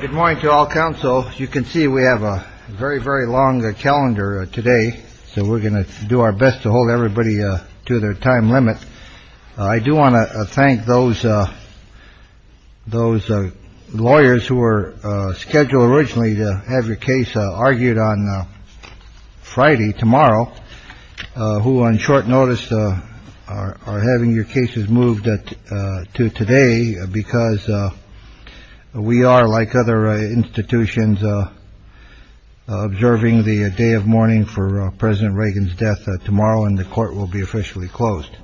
Good morning to all counsel. You can see we have a very, very long calendar today. So we're going to do our best to hold everybody to their time limit. I do want to thank those those lawyers who were scheduled originally to have your case argued on Friday. Tomorrow, who on short notice are having your cases moved to today because we are like other institutions, observing the day of mourning for President Reagan's death tomorrow and the court will be officially closed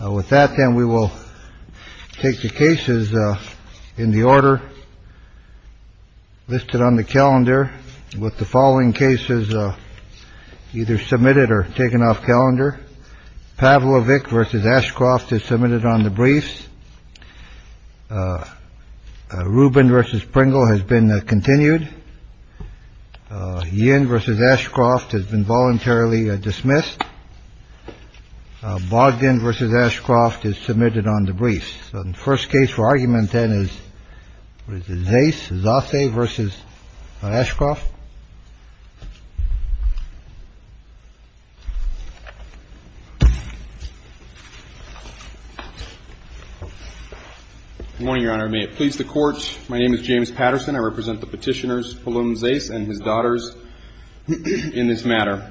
with that. And we will take the cases in the order listed on the calendar with the following cases either submitted or taken off calendar. Pavlovich versus Ashcroft is submitted on the briefs. Rubin versus Pringle has been continued. Yen versus Ashcroft has been voluntarily dismissed. Bogdan versus Ashcroft is submitted on the briefs. So the first case for argument then is Zace versus Ashcroft. Good morning, Your Honor. May it please the Court. My name is James Patterson. I represent the Petitioners Palum and Zace and his daughters in this matter.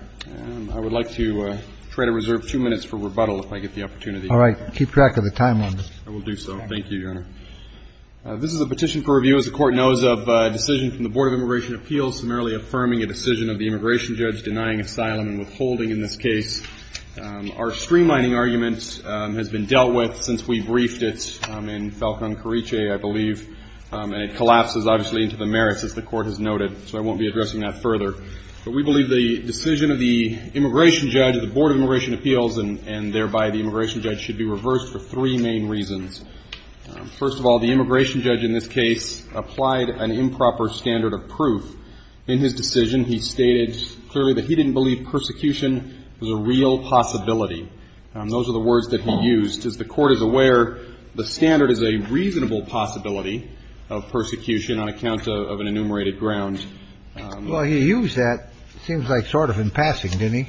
I would like to try to reserve two minutes for rebuttal if I get the opportunity. All right. Keep track of the time on this. I will do so. Thank you, Your Honor. This is a petition for review. As the Court knows of a decision from the Board of Immigration Appeals summarily affirming a decision of the immigration judge denying asylum and withholding in this case. Our streamlining argument has been dealt with since we briefed it in Falcon Carice, I believe, and it collapses obviously into the merits, as the Court has noted. So I won't be addressing that further. But we believe the decision of the immigration judge of the Board of Immigration Appeals, and thereby the immigration judge, should be reversed for three main reasons. First of all, the immigration judge in this case applied an improper standard of proof in his decision. He stated clearly that he didn't believe persecution was a real possibility. Those are the words that he used. As the Court is aware, the standard is a reasonable possibility of persecution on account of an enumerated ground. Well, he used that, it seems like, sort of in passing, didn't he?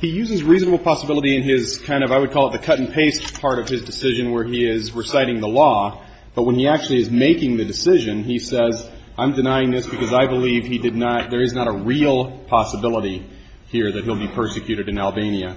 He uses reasonable possibility in his kind of, I would call it the cut-and-paste part of his decision where he is reciting the law. But when he actually is making the decision, he says, I'm denying this because I believe he did not – there is not a real possibility here that he'll be persecuted in Albania.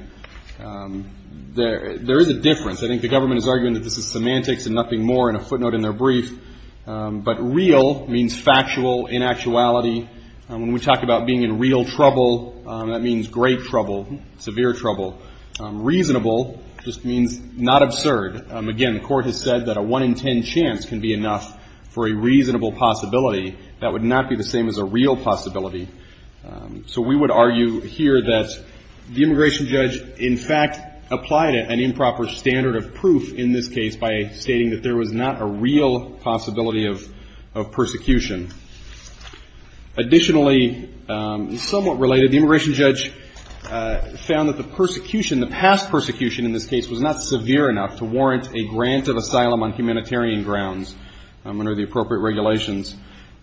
There is a difference. I think the government is arguing that this is semantics and nothing more in a footnote in their brief. But real means factual, in actuality. When we talk about being in real trouble, that means great trouble, severe trouble. Reasonable just means not absurd. Again, the Court has said that a one-in-ten chance can be enough for a reasonable possibility. That would not be the same as a real possibility. So we would argue here that the immigration judge, in fact, applied an improper standard of proof in this case by stating that there was not a real possibility of persecution. Additionally, somewhat related, the immigration judge found that the persecution, the past persecution in this case, was not severe enough to warrant a grant of asylum on humanitarian grounds under the appropriate regulations.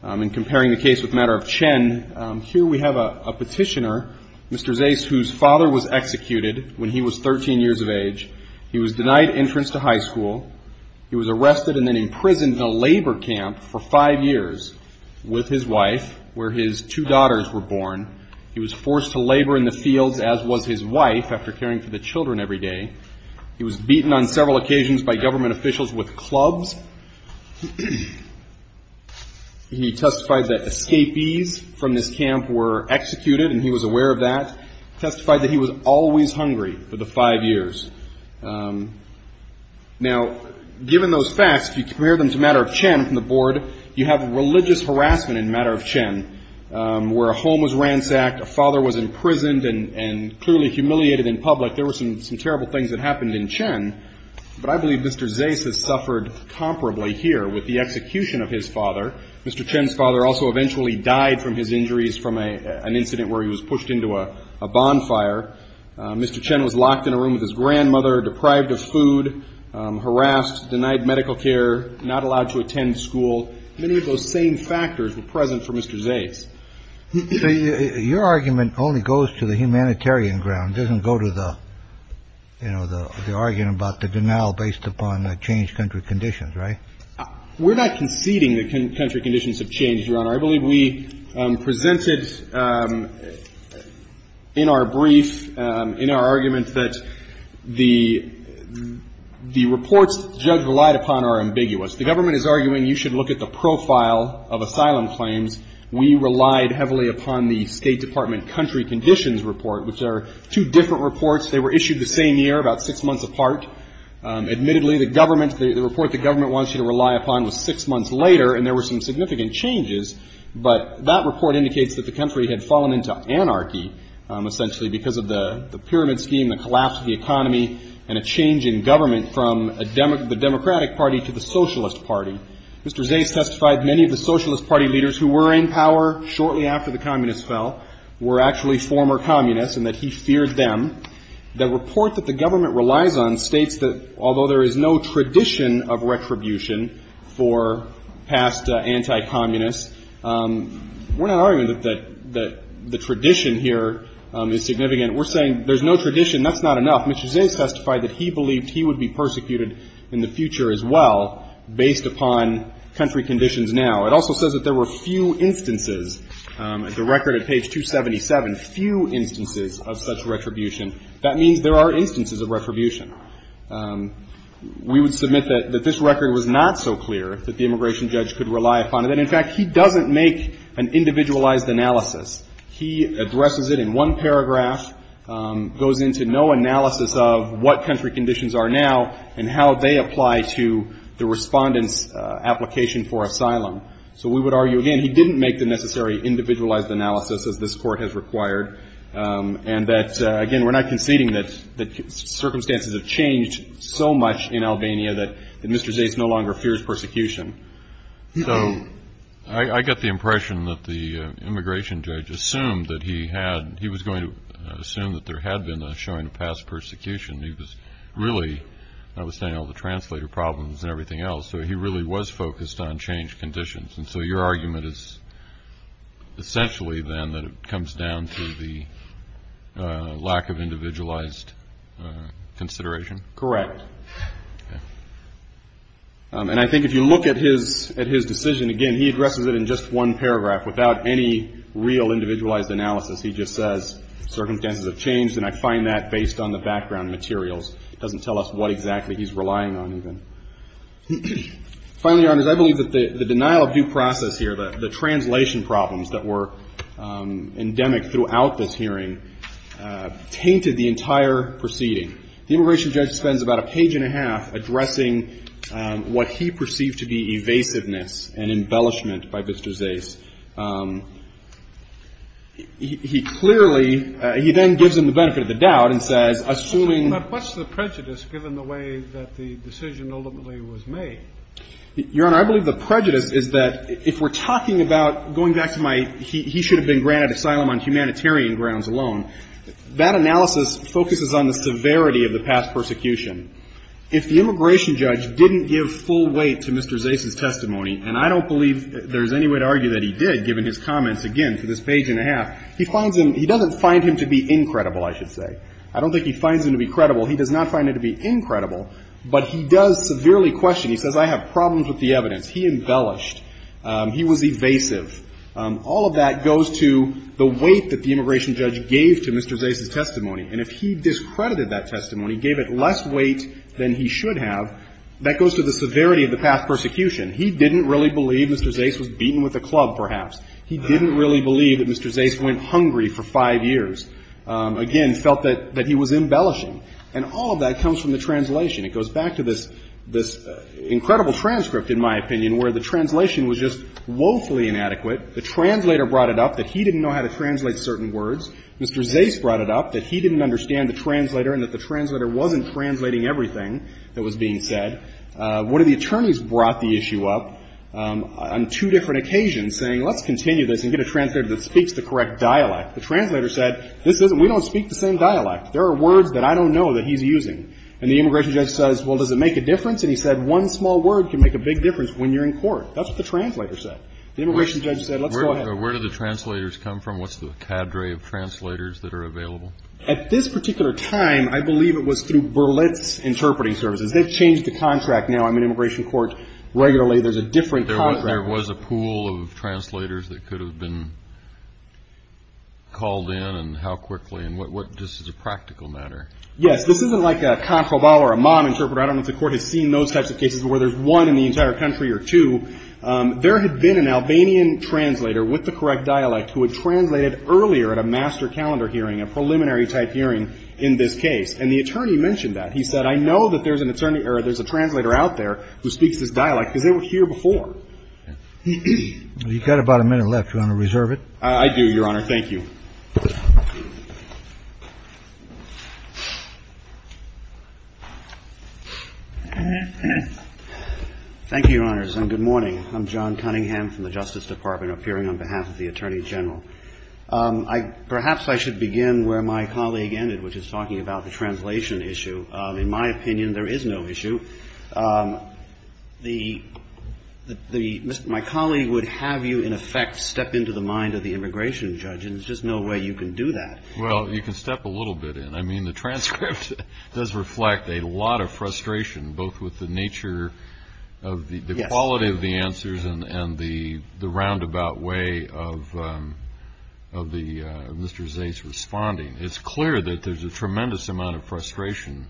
In comparing the case with the matter of Chen, here we have a petitioner, Mr. Zays, whose father was executed when he was 13 years of age. He was denied entrance to high school. He was arrested and then imprisoned in a labor camp for five years with his wife, where his two daughters were born. He was forced to labor in the fields, as was his wife, after caring for the children every day. He was beaten on several occasions by government officials with clubs. He testified that escapees from this camp were executed, and he was aware of that. Testified that he was always hungry for the five years. Now, given those facts, if you compare them to the matter of Chen from the board, you have religious harassment in the matter of Chen, where a home was ransacked, a father was imprisoned and clearly humiliated in public. There were some terrible things that happened in Chen, but I believe Mr. Zays has suffered comparably here with the execution of his father. Mr. Chen's father also eventually died from his injuries from an incident where he was pushed into a bonfire. Mr. Chen was locked in a room with his grandmother, deprived of food, harassed, denied medical care, not allowed to attend school. Many of those same factors were present for Mr. Zays. Your argument only goes to the humanitarian ground, doesn't go to the, you know, the argument about the denial based upon the changed country conditions, right? We're not conceding that country conditions have changed, Your Honor. I believe we presented in our brief, in our argument, that the reports the judge relied upon are ambiguous. The government is arguing you should look at the profile of asylum claims. We relied heavily upon the State Department country conditions report, which are two different reports. They were issued the same year, about six months apart. Admittedly, the government, the report the government wants you to rely upon was six months later, and there were some significant changes. But that report indicates that the country had fallen into anarchy, essentially, because of the pyramid scheme, the collapse of the economy, and a change in government from the Democratic Party to the Socialist Party. Mr. Zays testified many of the Socialist Party leaders who were in power shortly after the Communists fell were actually former Communists and that he feared them. The report that the government relies on states that although there is no tradition of retribution for past anti-Communists, we're not arguing that the tradition here is significant. We're saying there's no tradition, that's not enough. Mr. Zays testified that he believed he would be persecuted in the future as well, based upon country conditions now. It also says that there were few instances, the record at page 277, few instances of such retribution. That means there are instances of retribution. We would submit that this record was not so clear that the immigration judge could rely upon it. And, in fact, he doesn't make an individualized analysis. He addresses it in one paragraph, goes into no analysis of what country conditions are now and how they apply to the respondent's application for asylum. So we would argue, again, he didn't make the necessary individualized analysis, as this Court has required, and that, again, we're not conceding that circumstances have changed so much in Albania that Mr. Zays no longer fears persecution. So I got the impression that the immigration judge assumed that he had, he was going to assume that there had been a showing of past persecution. He was really, notwithstanding all the translator problems and everything else, so he really was focused on changed conditions. And so your argument is essentially, then, that it comes down to the lack of individualized consideration? Correct. And I think if you look at his decision, again, he addresses it in just one paragraph. Without any real individualized analysis, he just says, circumstances have changed, and I find that based on the background materials. It doesn't tell us what exactly he's relying on, even. Finally, Your Honors, I believe that the denial of due process here, the translation problems that were endemic throughout this hearing, tainted the entire proceeding. The immigration judge spends about a page and a half addressing what he perceived to be evasiveness and embellishment by Mr. Zays. He clearly, he then gives him the benefit of the doubt and says, assuming. But what's the prejudice, given the way that the decision ultimately was made? Your Honor, I believe the prejudice is that, if we're talking about, going back to my, he should have been granted asylum on humanitarian grounds alone, that analysis focuses on the severity of the past persecution. If the immigration judge didn't give full weight to Mr. Zays' testimony, and I don't believe there's any way to argue that he did, given his comments, again, to this page and a half, he finds him, he doesn't find him to be incredible, I should say. I don't think he finds him to be credible. He does not find it to be incredible, but he does severely question. He says, I have problems with the evidence. He embellished. He was evasive. All of that goes to the weight that the immigration judge gave to Mr. Zays' testimony. And if he discredited that testimony, gave it less weight than he should have, that goes to the severity of the past persecution. He didn't really believe Mr. Zays was beaten with a club, perhaps. He didn't really believe that Mr. Zays went hungry for five years. Again, felt that he was embellishing. And all of that comes from the translation. It goes back to this incredible transcript, in my opinion, where the translation was just woefully inadequate. The translator brought it up that he didn't know how to translate certain words. Mr. Zays brought it up that he didn't understand the translator and that the translator wasn't translating everything that was being said. One of the attorneys brought the issue up on two different occasions, saying, let's continue this and get a translator that speaks the correct dialect. The translator said, this isn't, we don't speak the same dialect. There are words that I don't know that he's using. And the immigration judge says, well, does it make a difference? And he said, one small word can make a big difference when you're in court. That's what the translator said. The immigration judge said, let's go ahead. Where do the translators come from? What's the cadre of translators that are available? At this particular time, I believe it was through Berlitz Interpreting Services. They've changed the contract now. I'm in immigration court regularly. There's a different contract. There was a pool of translators that could have been called in and how quickly and what, what, this is a practical matter. Yes. This isn't like a comproval or a mom interpreter. I don't know if the court has seen those types of cases where there's one in the entire country or two. There had been an Albanian translator with the correct dialect who had translated earlier at a master calendar hearing, a preliminary type hearing in this case. And the attorney mentioned that. He said, I know that there's an attorney or there's a translator out there who speaks this dialect because they were here before. You've got about a minute left. You want to reserve it? I do, Your Honor. Thank you. Thank you, Your Honors, and good morning. I'm John Cunningham from the Justice Department, appearing on behalf of the Attorney General. Perhaps I should begin where my colleague ended, which is talking about the translation issue. In my opinion, there is no issue. My colleague would have you, in effect, step into the mind of the immigration judge, and there's just no way you can do that. Well, you can step a little bit in. I mean, the transcript does reflect a lot of frustration, both with the nature of the quality of the answers and the roundabout way of Mr. Zay's responding. It's clear that there's a tremendous amount of frustration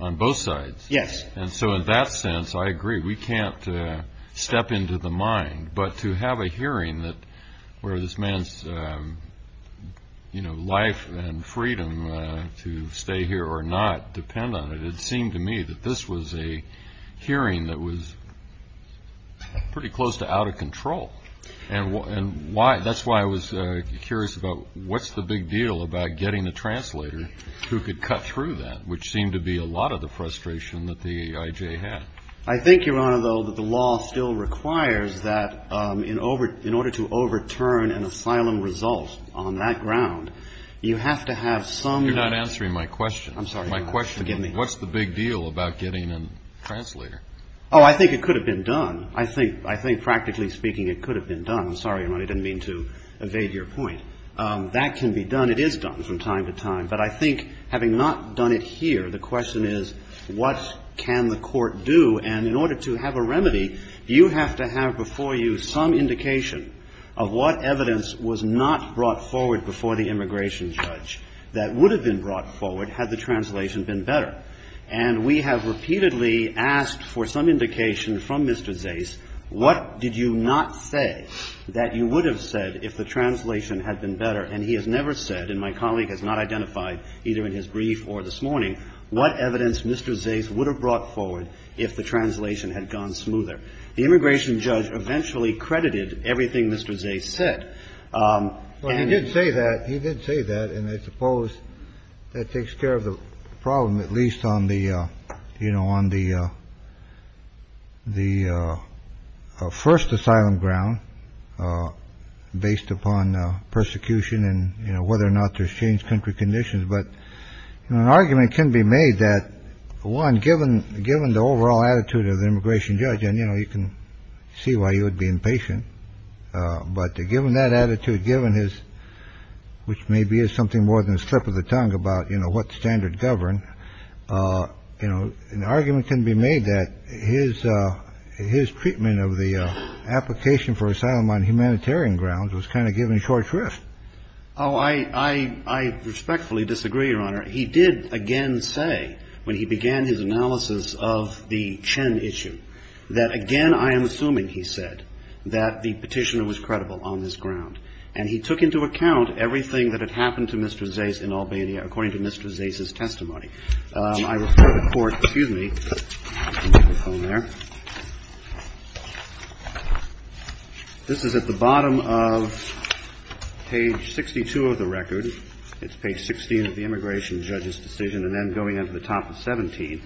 on both sides. Yes. And so in that sense, I agree. We can't step into the mind. But to have a hearing where this man's life and freedom to stay here or not depend on it, it seemed to me that this was a hearing that was pretty close to out of control. And that's why I was curious about what's the big deal about getting a translator who could cut through that, which seemed to be a lot of the frustration that the IJ had. I think, Your Honor, though, that the law still requires that in order to overturn an asylum result on that ground, you have to have some. You're not answering my question. I'm sorry. My question is, what's the big deal about getting a translator? Oh, I think it could have been done. I think practically speaking, it could have been done. I'm sorry, Your Honor, I didn't mean to evade your point. That can be done. It is done from time to time. But I think having not done it here, the question is, what can the court do? And in order to have a remedy, you have to have before you some indication of what evidence was not brought forward before the immigration judge that would have been brought forward had the translation been better. And we have repeatedly asked for some indication from Mr. Zais, what did you not say that you would have said if the translation had been better? And he has never said, and my colleague has not identified either in his brief or this morning, what evidence Mr. Zais would have brought forward if the translation had gone smoother. The immigration judge eventually credited everything Mr. Zais said. And he did say that he did say that. And I suppose that takes care of the problem, at least on the you know, on the the first asylum ground based upon persecution and whether or not there's changed country conditions. But an argument can be made that one given given the overall attitude of the immigration judge and, you know, you can see why you would be impatient. But given that attitude, given his which may be is something more than a slip of the tongue about, you know, what standard govern, you know, an argument can be made that his his treatment of the application for asylum on humanitarian grounds was kind of given short shrift. Oh, I, I, I respectfully disagree, Your Honor. He did again say when he began his analysis of the Chen issue that again, I am assuming he said that the petitioner was credible on this ground. And he took into account everything that had happened to Mr. Zais in Albania, according to Mr. Zais' testimony. I refer the court, excuse me. This is at the bottom of page 62 of the record. It's page 16 of the immigration judge's decision and then going into the top of 17.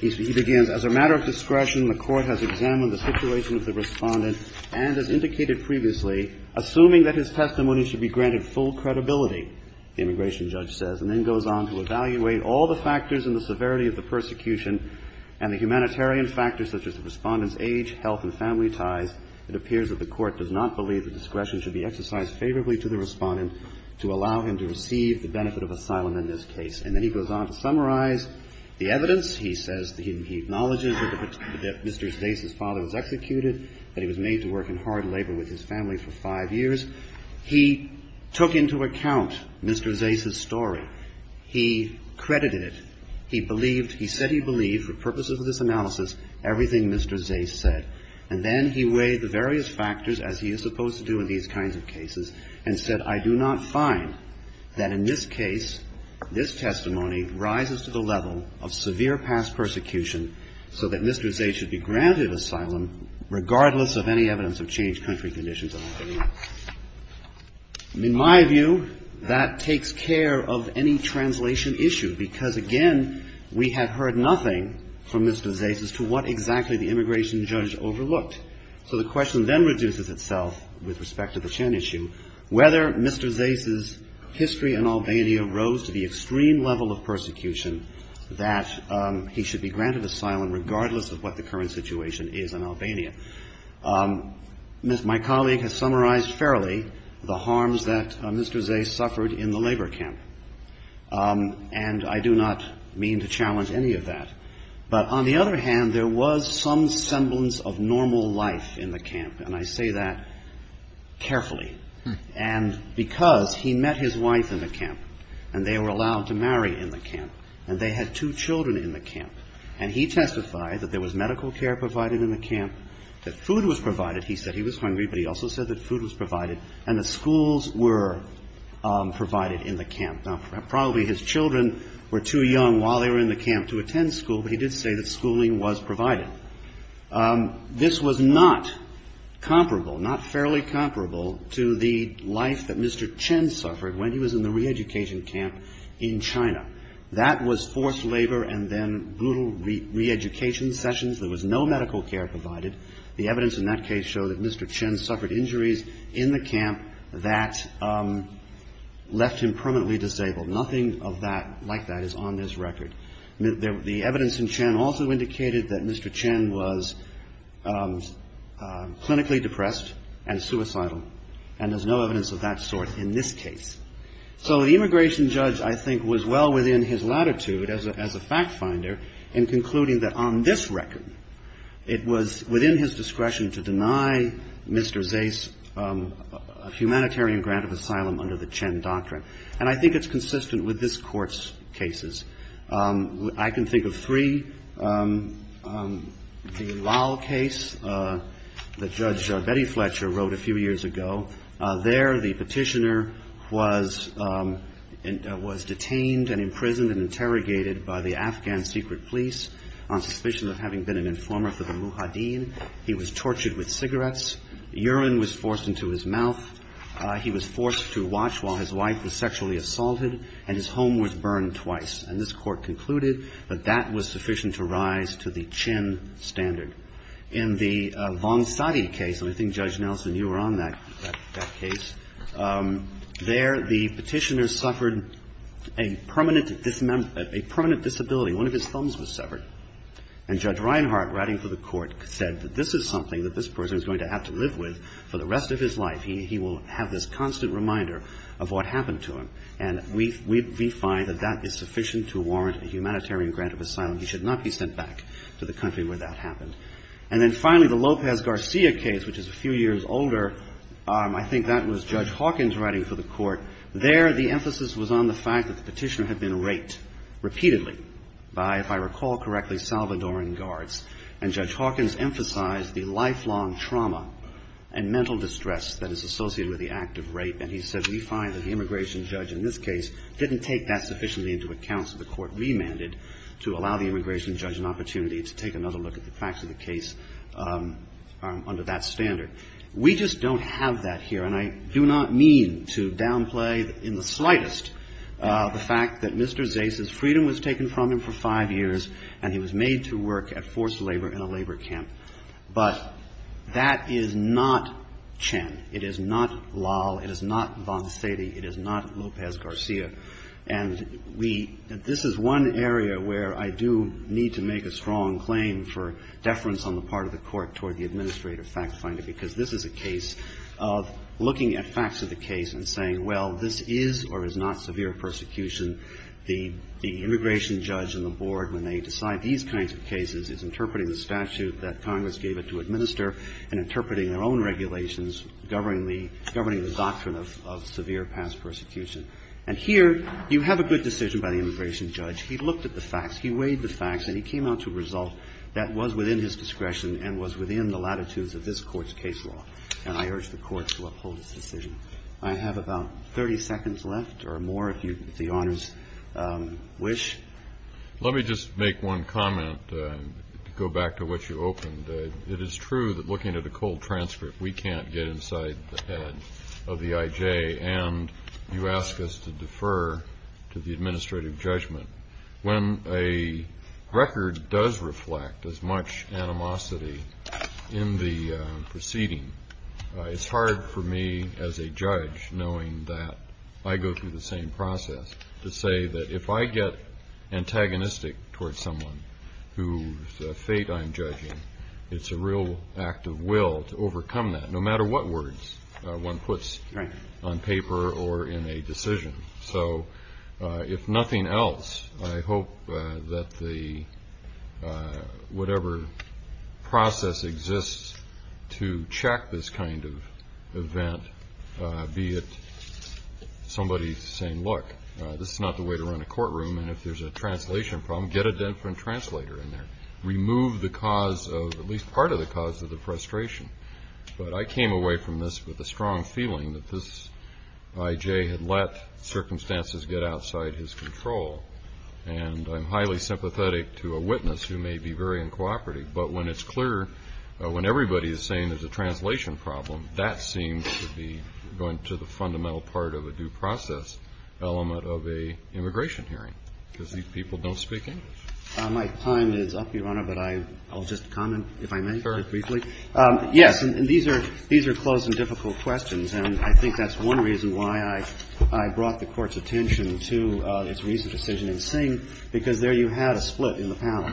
He begins, as a matter of discretion, the court has examined the situation of the Respondent and, as indicated previously, assuming that his testimony should be granted full credibility, the immigration judge says, and then goes on to evaluate all the factors and the severity of the persecution and the humanitarian factors such as the Respondent's age, health and family ties. It appears that the court does not believe the discretion should be exercised favorably to the Respondent to allow him to receive the benefit of asylum in this case. And then he goes on to summarize the evidence. He says he acknowledges that Mr. Zais' father was executed, that he was made to work in hard labor with his family for five years. He took into account Mr. Zais' story. He credited it. He believed, he said he believed for purposes of this analysis, everything Mr. Zais said. And then he weighed the various factors, as he is supposed to do in these kinds of cases, and said, I do not find that in this case, this testimony rises to the level of severe past persecution so that Mr. Zais should be granted asylum regardless of any evidence of changed country conditions. In my view, that takes care of any translation issue because, again, we had heard nothing from Mr. Zais as to what exactly the immigration judge overlooked. So the question then reduces itself with respect to the Chen issue, whether Mr. Zais' history in Albania rose to the extreme level of persecution that he should be granted asylum regardless of what the current situation is in Albania. My colleague has summarized fairly the harms that Mr. Zais suffered in the labor camp, and I do not mean to challenge any of that. But on the other hand, there was some semblance of normal life in the camp, and I say that carefully. And because he met his wife in the camp, and they were allowed to marry in the camp, and they had two children in the camp, and he testified that there was medical care provided in the camp, that food was provided. He said he was hungry, but he also said that food was provided, and that schools were provided in the camp. Now, probably his children were too young while they were in the camp to attend school, but he did say that schooling was provided. This was not comparable, not fairly comparable to the life that Mr. Chen suffered when he was in the reeducation camp in China. That was forced labor and then brutal reeducation sessions. There was no medical care provided. The evidence in that case showed that Mr. Chen suffered injuries in the camp that left him permanently disabled. Nothing of that, like that, is on this record. The evidence in Chen also indicated that Mr. Chen was clinically depressed and suicidal, and there's no evidence of that sort in this case. So the immigration judge, I think, was well within his latitude as a fact finder in concluding that on this record, it was within his discretion to deny Mr. Zais a humanitarian grant of asylum under the Chen Doctrine, and I think it's consistent with this Court's cases. I can think of three. The Lau case that Judge Betty Fletcher wrote a few years ago. There, the petitioner was detained and imprisoned and interrogated by the Afghan secret police on suspicion of having been an informer for the Mujahideen. He was tortured with cigarettes. Urine was forced into his mouth. He was forced to watch while his wife was sexually assaulted, and his home was burned twice. And this Court concluded that that was sufficient to rise to the Chen standard. In the Vongsadi case, and I think Judge Nelson, you were on that case, there, the petitioner suffered a permanent disability. One of his thumbs was severed. And Judge Reinhart, writing for the Court, said that this is something that this person is going to have to live with for the rest of his life. He will have this constant reminder of what happened to him, and we find that that is sufficient to warrant a humanitarian grant of asylum. He should not be sent back to the country where that happened. And then finally, the Lopez Garcia case, which is a few years older, I think that was Judge Hawkins writing for the Court. There, the emphasis was on the fact that the petitioner had been raped repeatedly by, if I recall correctly, Salvadoran guards. And Judge Hawkins emphasized the lifelong trauma and mental distress that is associated with the act of rape. And he said we find that the immigration judge in this case didn't take that sufficiently into account. So the Court remanded to allow the immigration judge an opportunity to take another look at the facts of the case under that standard. We just don't have that here. And I do not mean to downplay in the slightest the fact that Mr. Zeis's freedom was taken from him for five years and he was made to work at forced labor in a labor camp. But that is not Chen. It is not Lal. It is not Vongsadi. It is not Lopez Garcia. And we, this is one area where I do need to make a strong claim for deference on the part of the Court toward the administrative fact finder. Because this is a case of looking at facts of the case and saying, well, this is or is not severe persecution. The immigration judge and the board, when they decide these kinds of cases, is interpreting the statute that Congress gave it to administer and interpreting their own regulations governing the doctrine of severe past persecution. And here you have a good decision by the immigration judge. He looked at the facts. He weighed the facts. And he came out to a result that was within his discretion and was within the latitudes of this Court's case law. And I urge the Court to uphold its decision. I have about 30 seconds left or more, if you, if the Honors wish. Let me just make one comment to go back to what you opened. It is true that looking at a cold transcript, we can't get inside the head of the IJ and you ask us to defer to the administrative judgment. When a record does reflect as much animosity in the proceeding, it's hard for me as a judge knowing that I go through the same process to say that if I get antagonistic towards someone whose fate I'm judging, it's a real act of will to overcome that, no matter what words one puts on paper or in a decision. So if nothing else, I hope that the, whatever process exists to check this kind of event, be it somebody saying, look, this is not the way to run a courtroom. And if there's a translation problem, get a different translator in there. Remove the cause of, at least part of the cause of the frustration. But I came away from this with a strong feeling that this IJ had let circumstances get outside his control. And I'm highly sympathetic to a witness who may be very uncooperative. But when it's clear, when everybody is saying there's a translation problem, that seems to be going to the fundamental part of a due process element of a immigration hearing, because these people don't speak English. My time is up, Your Honor, but I'll just comment, if I may, very briefly. Yes. And these are, these are close and difficult questions. And I think that's one reason why I brought the Court's attention to this recent decision in Singh, because there you had a split in the panel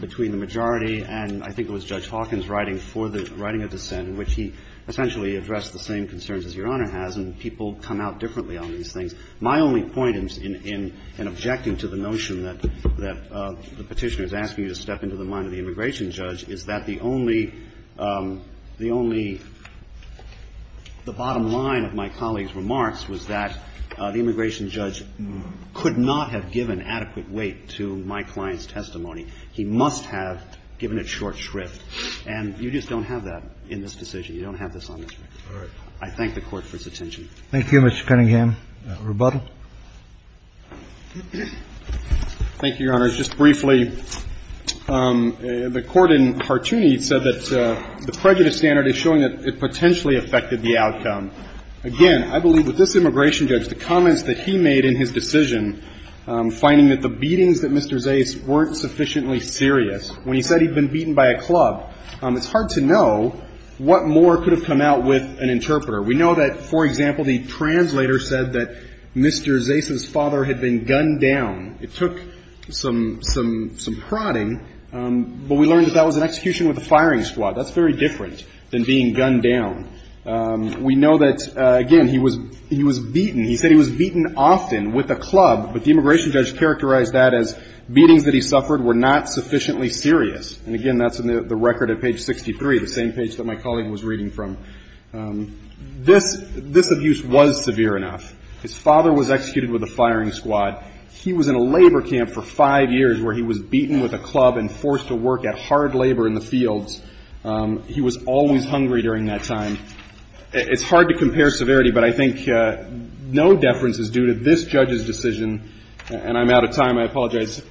between the majority and I think it was Judge Hawkins writing for the, writing a dissent in which he essentially addressed the same concerns as Your Honor has. And people come out differently on these things. My only point in, in, in objecting to the notion that, that the Petitioner is asking you to step into the mind of the immigration judge is that the only, the only, the bottom line of my colleague's remarks was that the immigration judge could not have given adequate weight to my client's testimony. He must have given it short shrift. And you just don't have that in this decision. You don't have this on this record. All right. I thank the Court for its attention. Thank you, Mr. Cunningham. Rebuttal. Thank you, Your Honor. Just briefly, the Court in Hartooni said that the prejudice standard is showing that it potentially affected the outcome. Again, I believe with this immigration judge, the comments that he made in his decision, finding that the beatings that Mr. Zayas weren't sufficiently serious, when he said he'd been beaten by a club, it's hard to know what more could have come out with an interpreter. We know that, for example, the translator said that Mr. Zayas' father had been gunned down. It took some, some, some prodding, but we learned that that was an execution with a firing squad. That's very different than being gunned down. We know that, again, he was, he was beaten. He said he was beaten often with a club, but the immigration judge characterized that as beatings that he suffered were not sufficiently serious. And again, that's in the record at page 63, the same page that my colleague was reading from. This, this abuse was severe enough. His father was executed with a firing squad. He was in a labor camp for five years where he was beaten with a club and forced to work at hard labor in the fields. He was always hungry during that time. It's hard to compare severity, but I think no deference is due to this judge's decision, and I'm out of time. I apologize.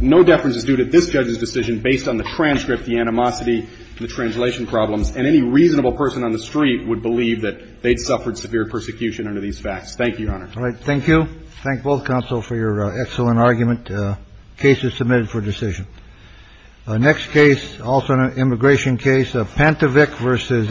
No deference is due to this judge's decision based on the transcript, the animosity, the translation problems. And any reasonable person on the street would believe that they'd suffered severe persecution under these facts. Thank you. All right. Thank you. Thank both counsel for your excellent argument. Case is submitted for decision. Next case, also an immigration case of Pantovic versus Ashcroft.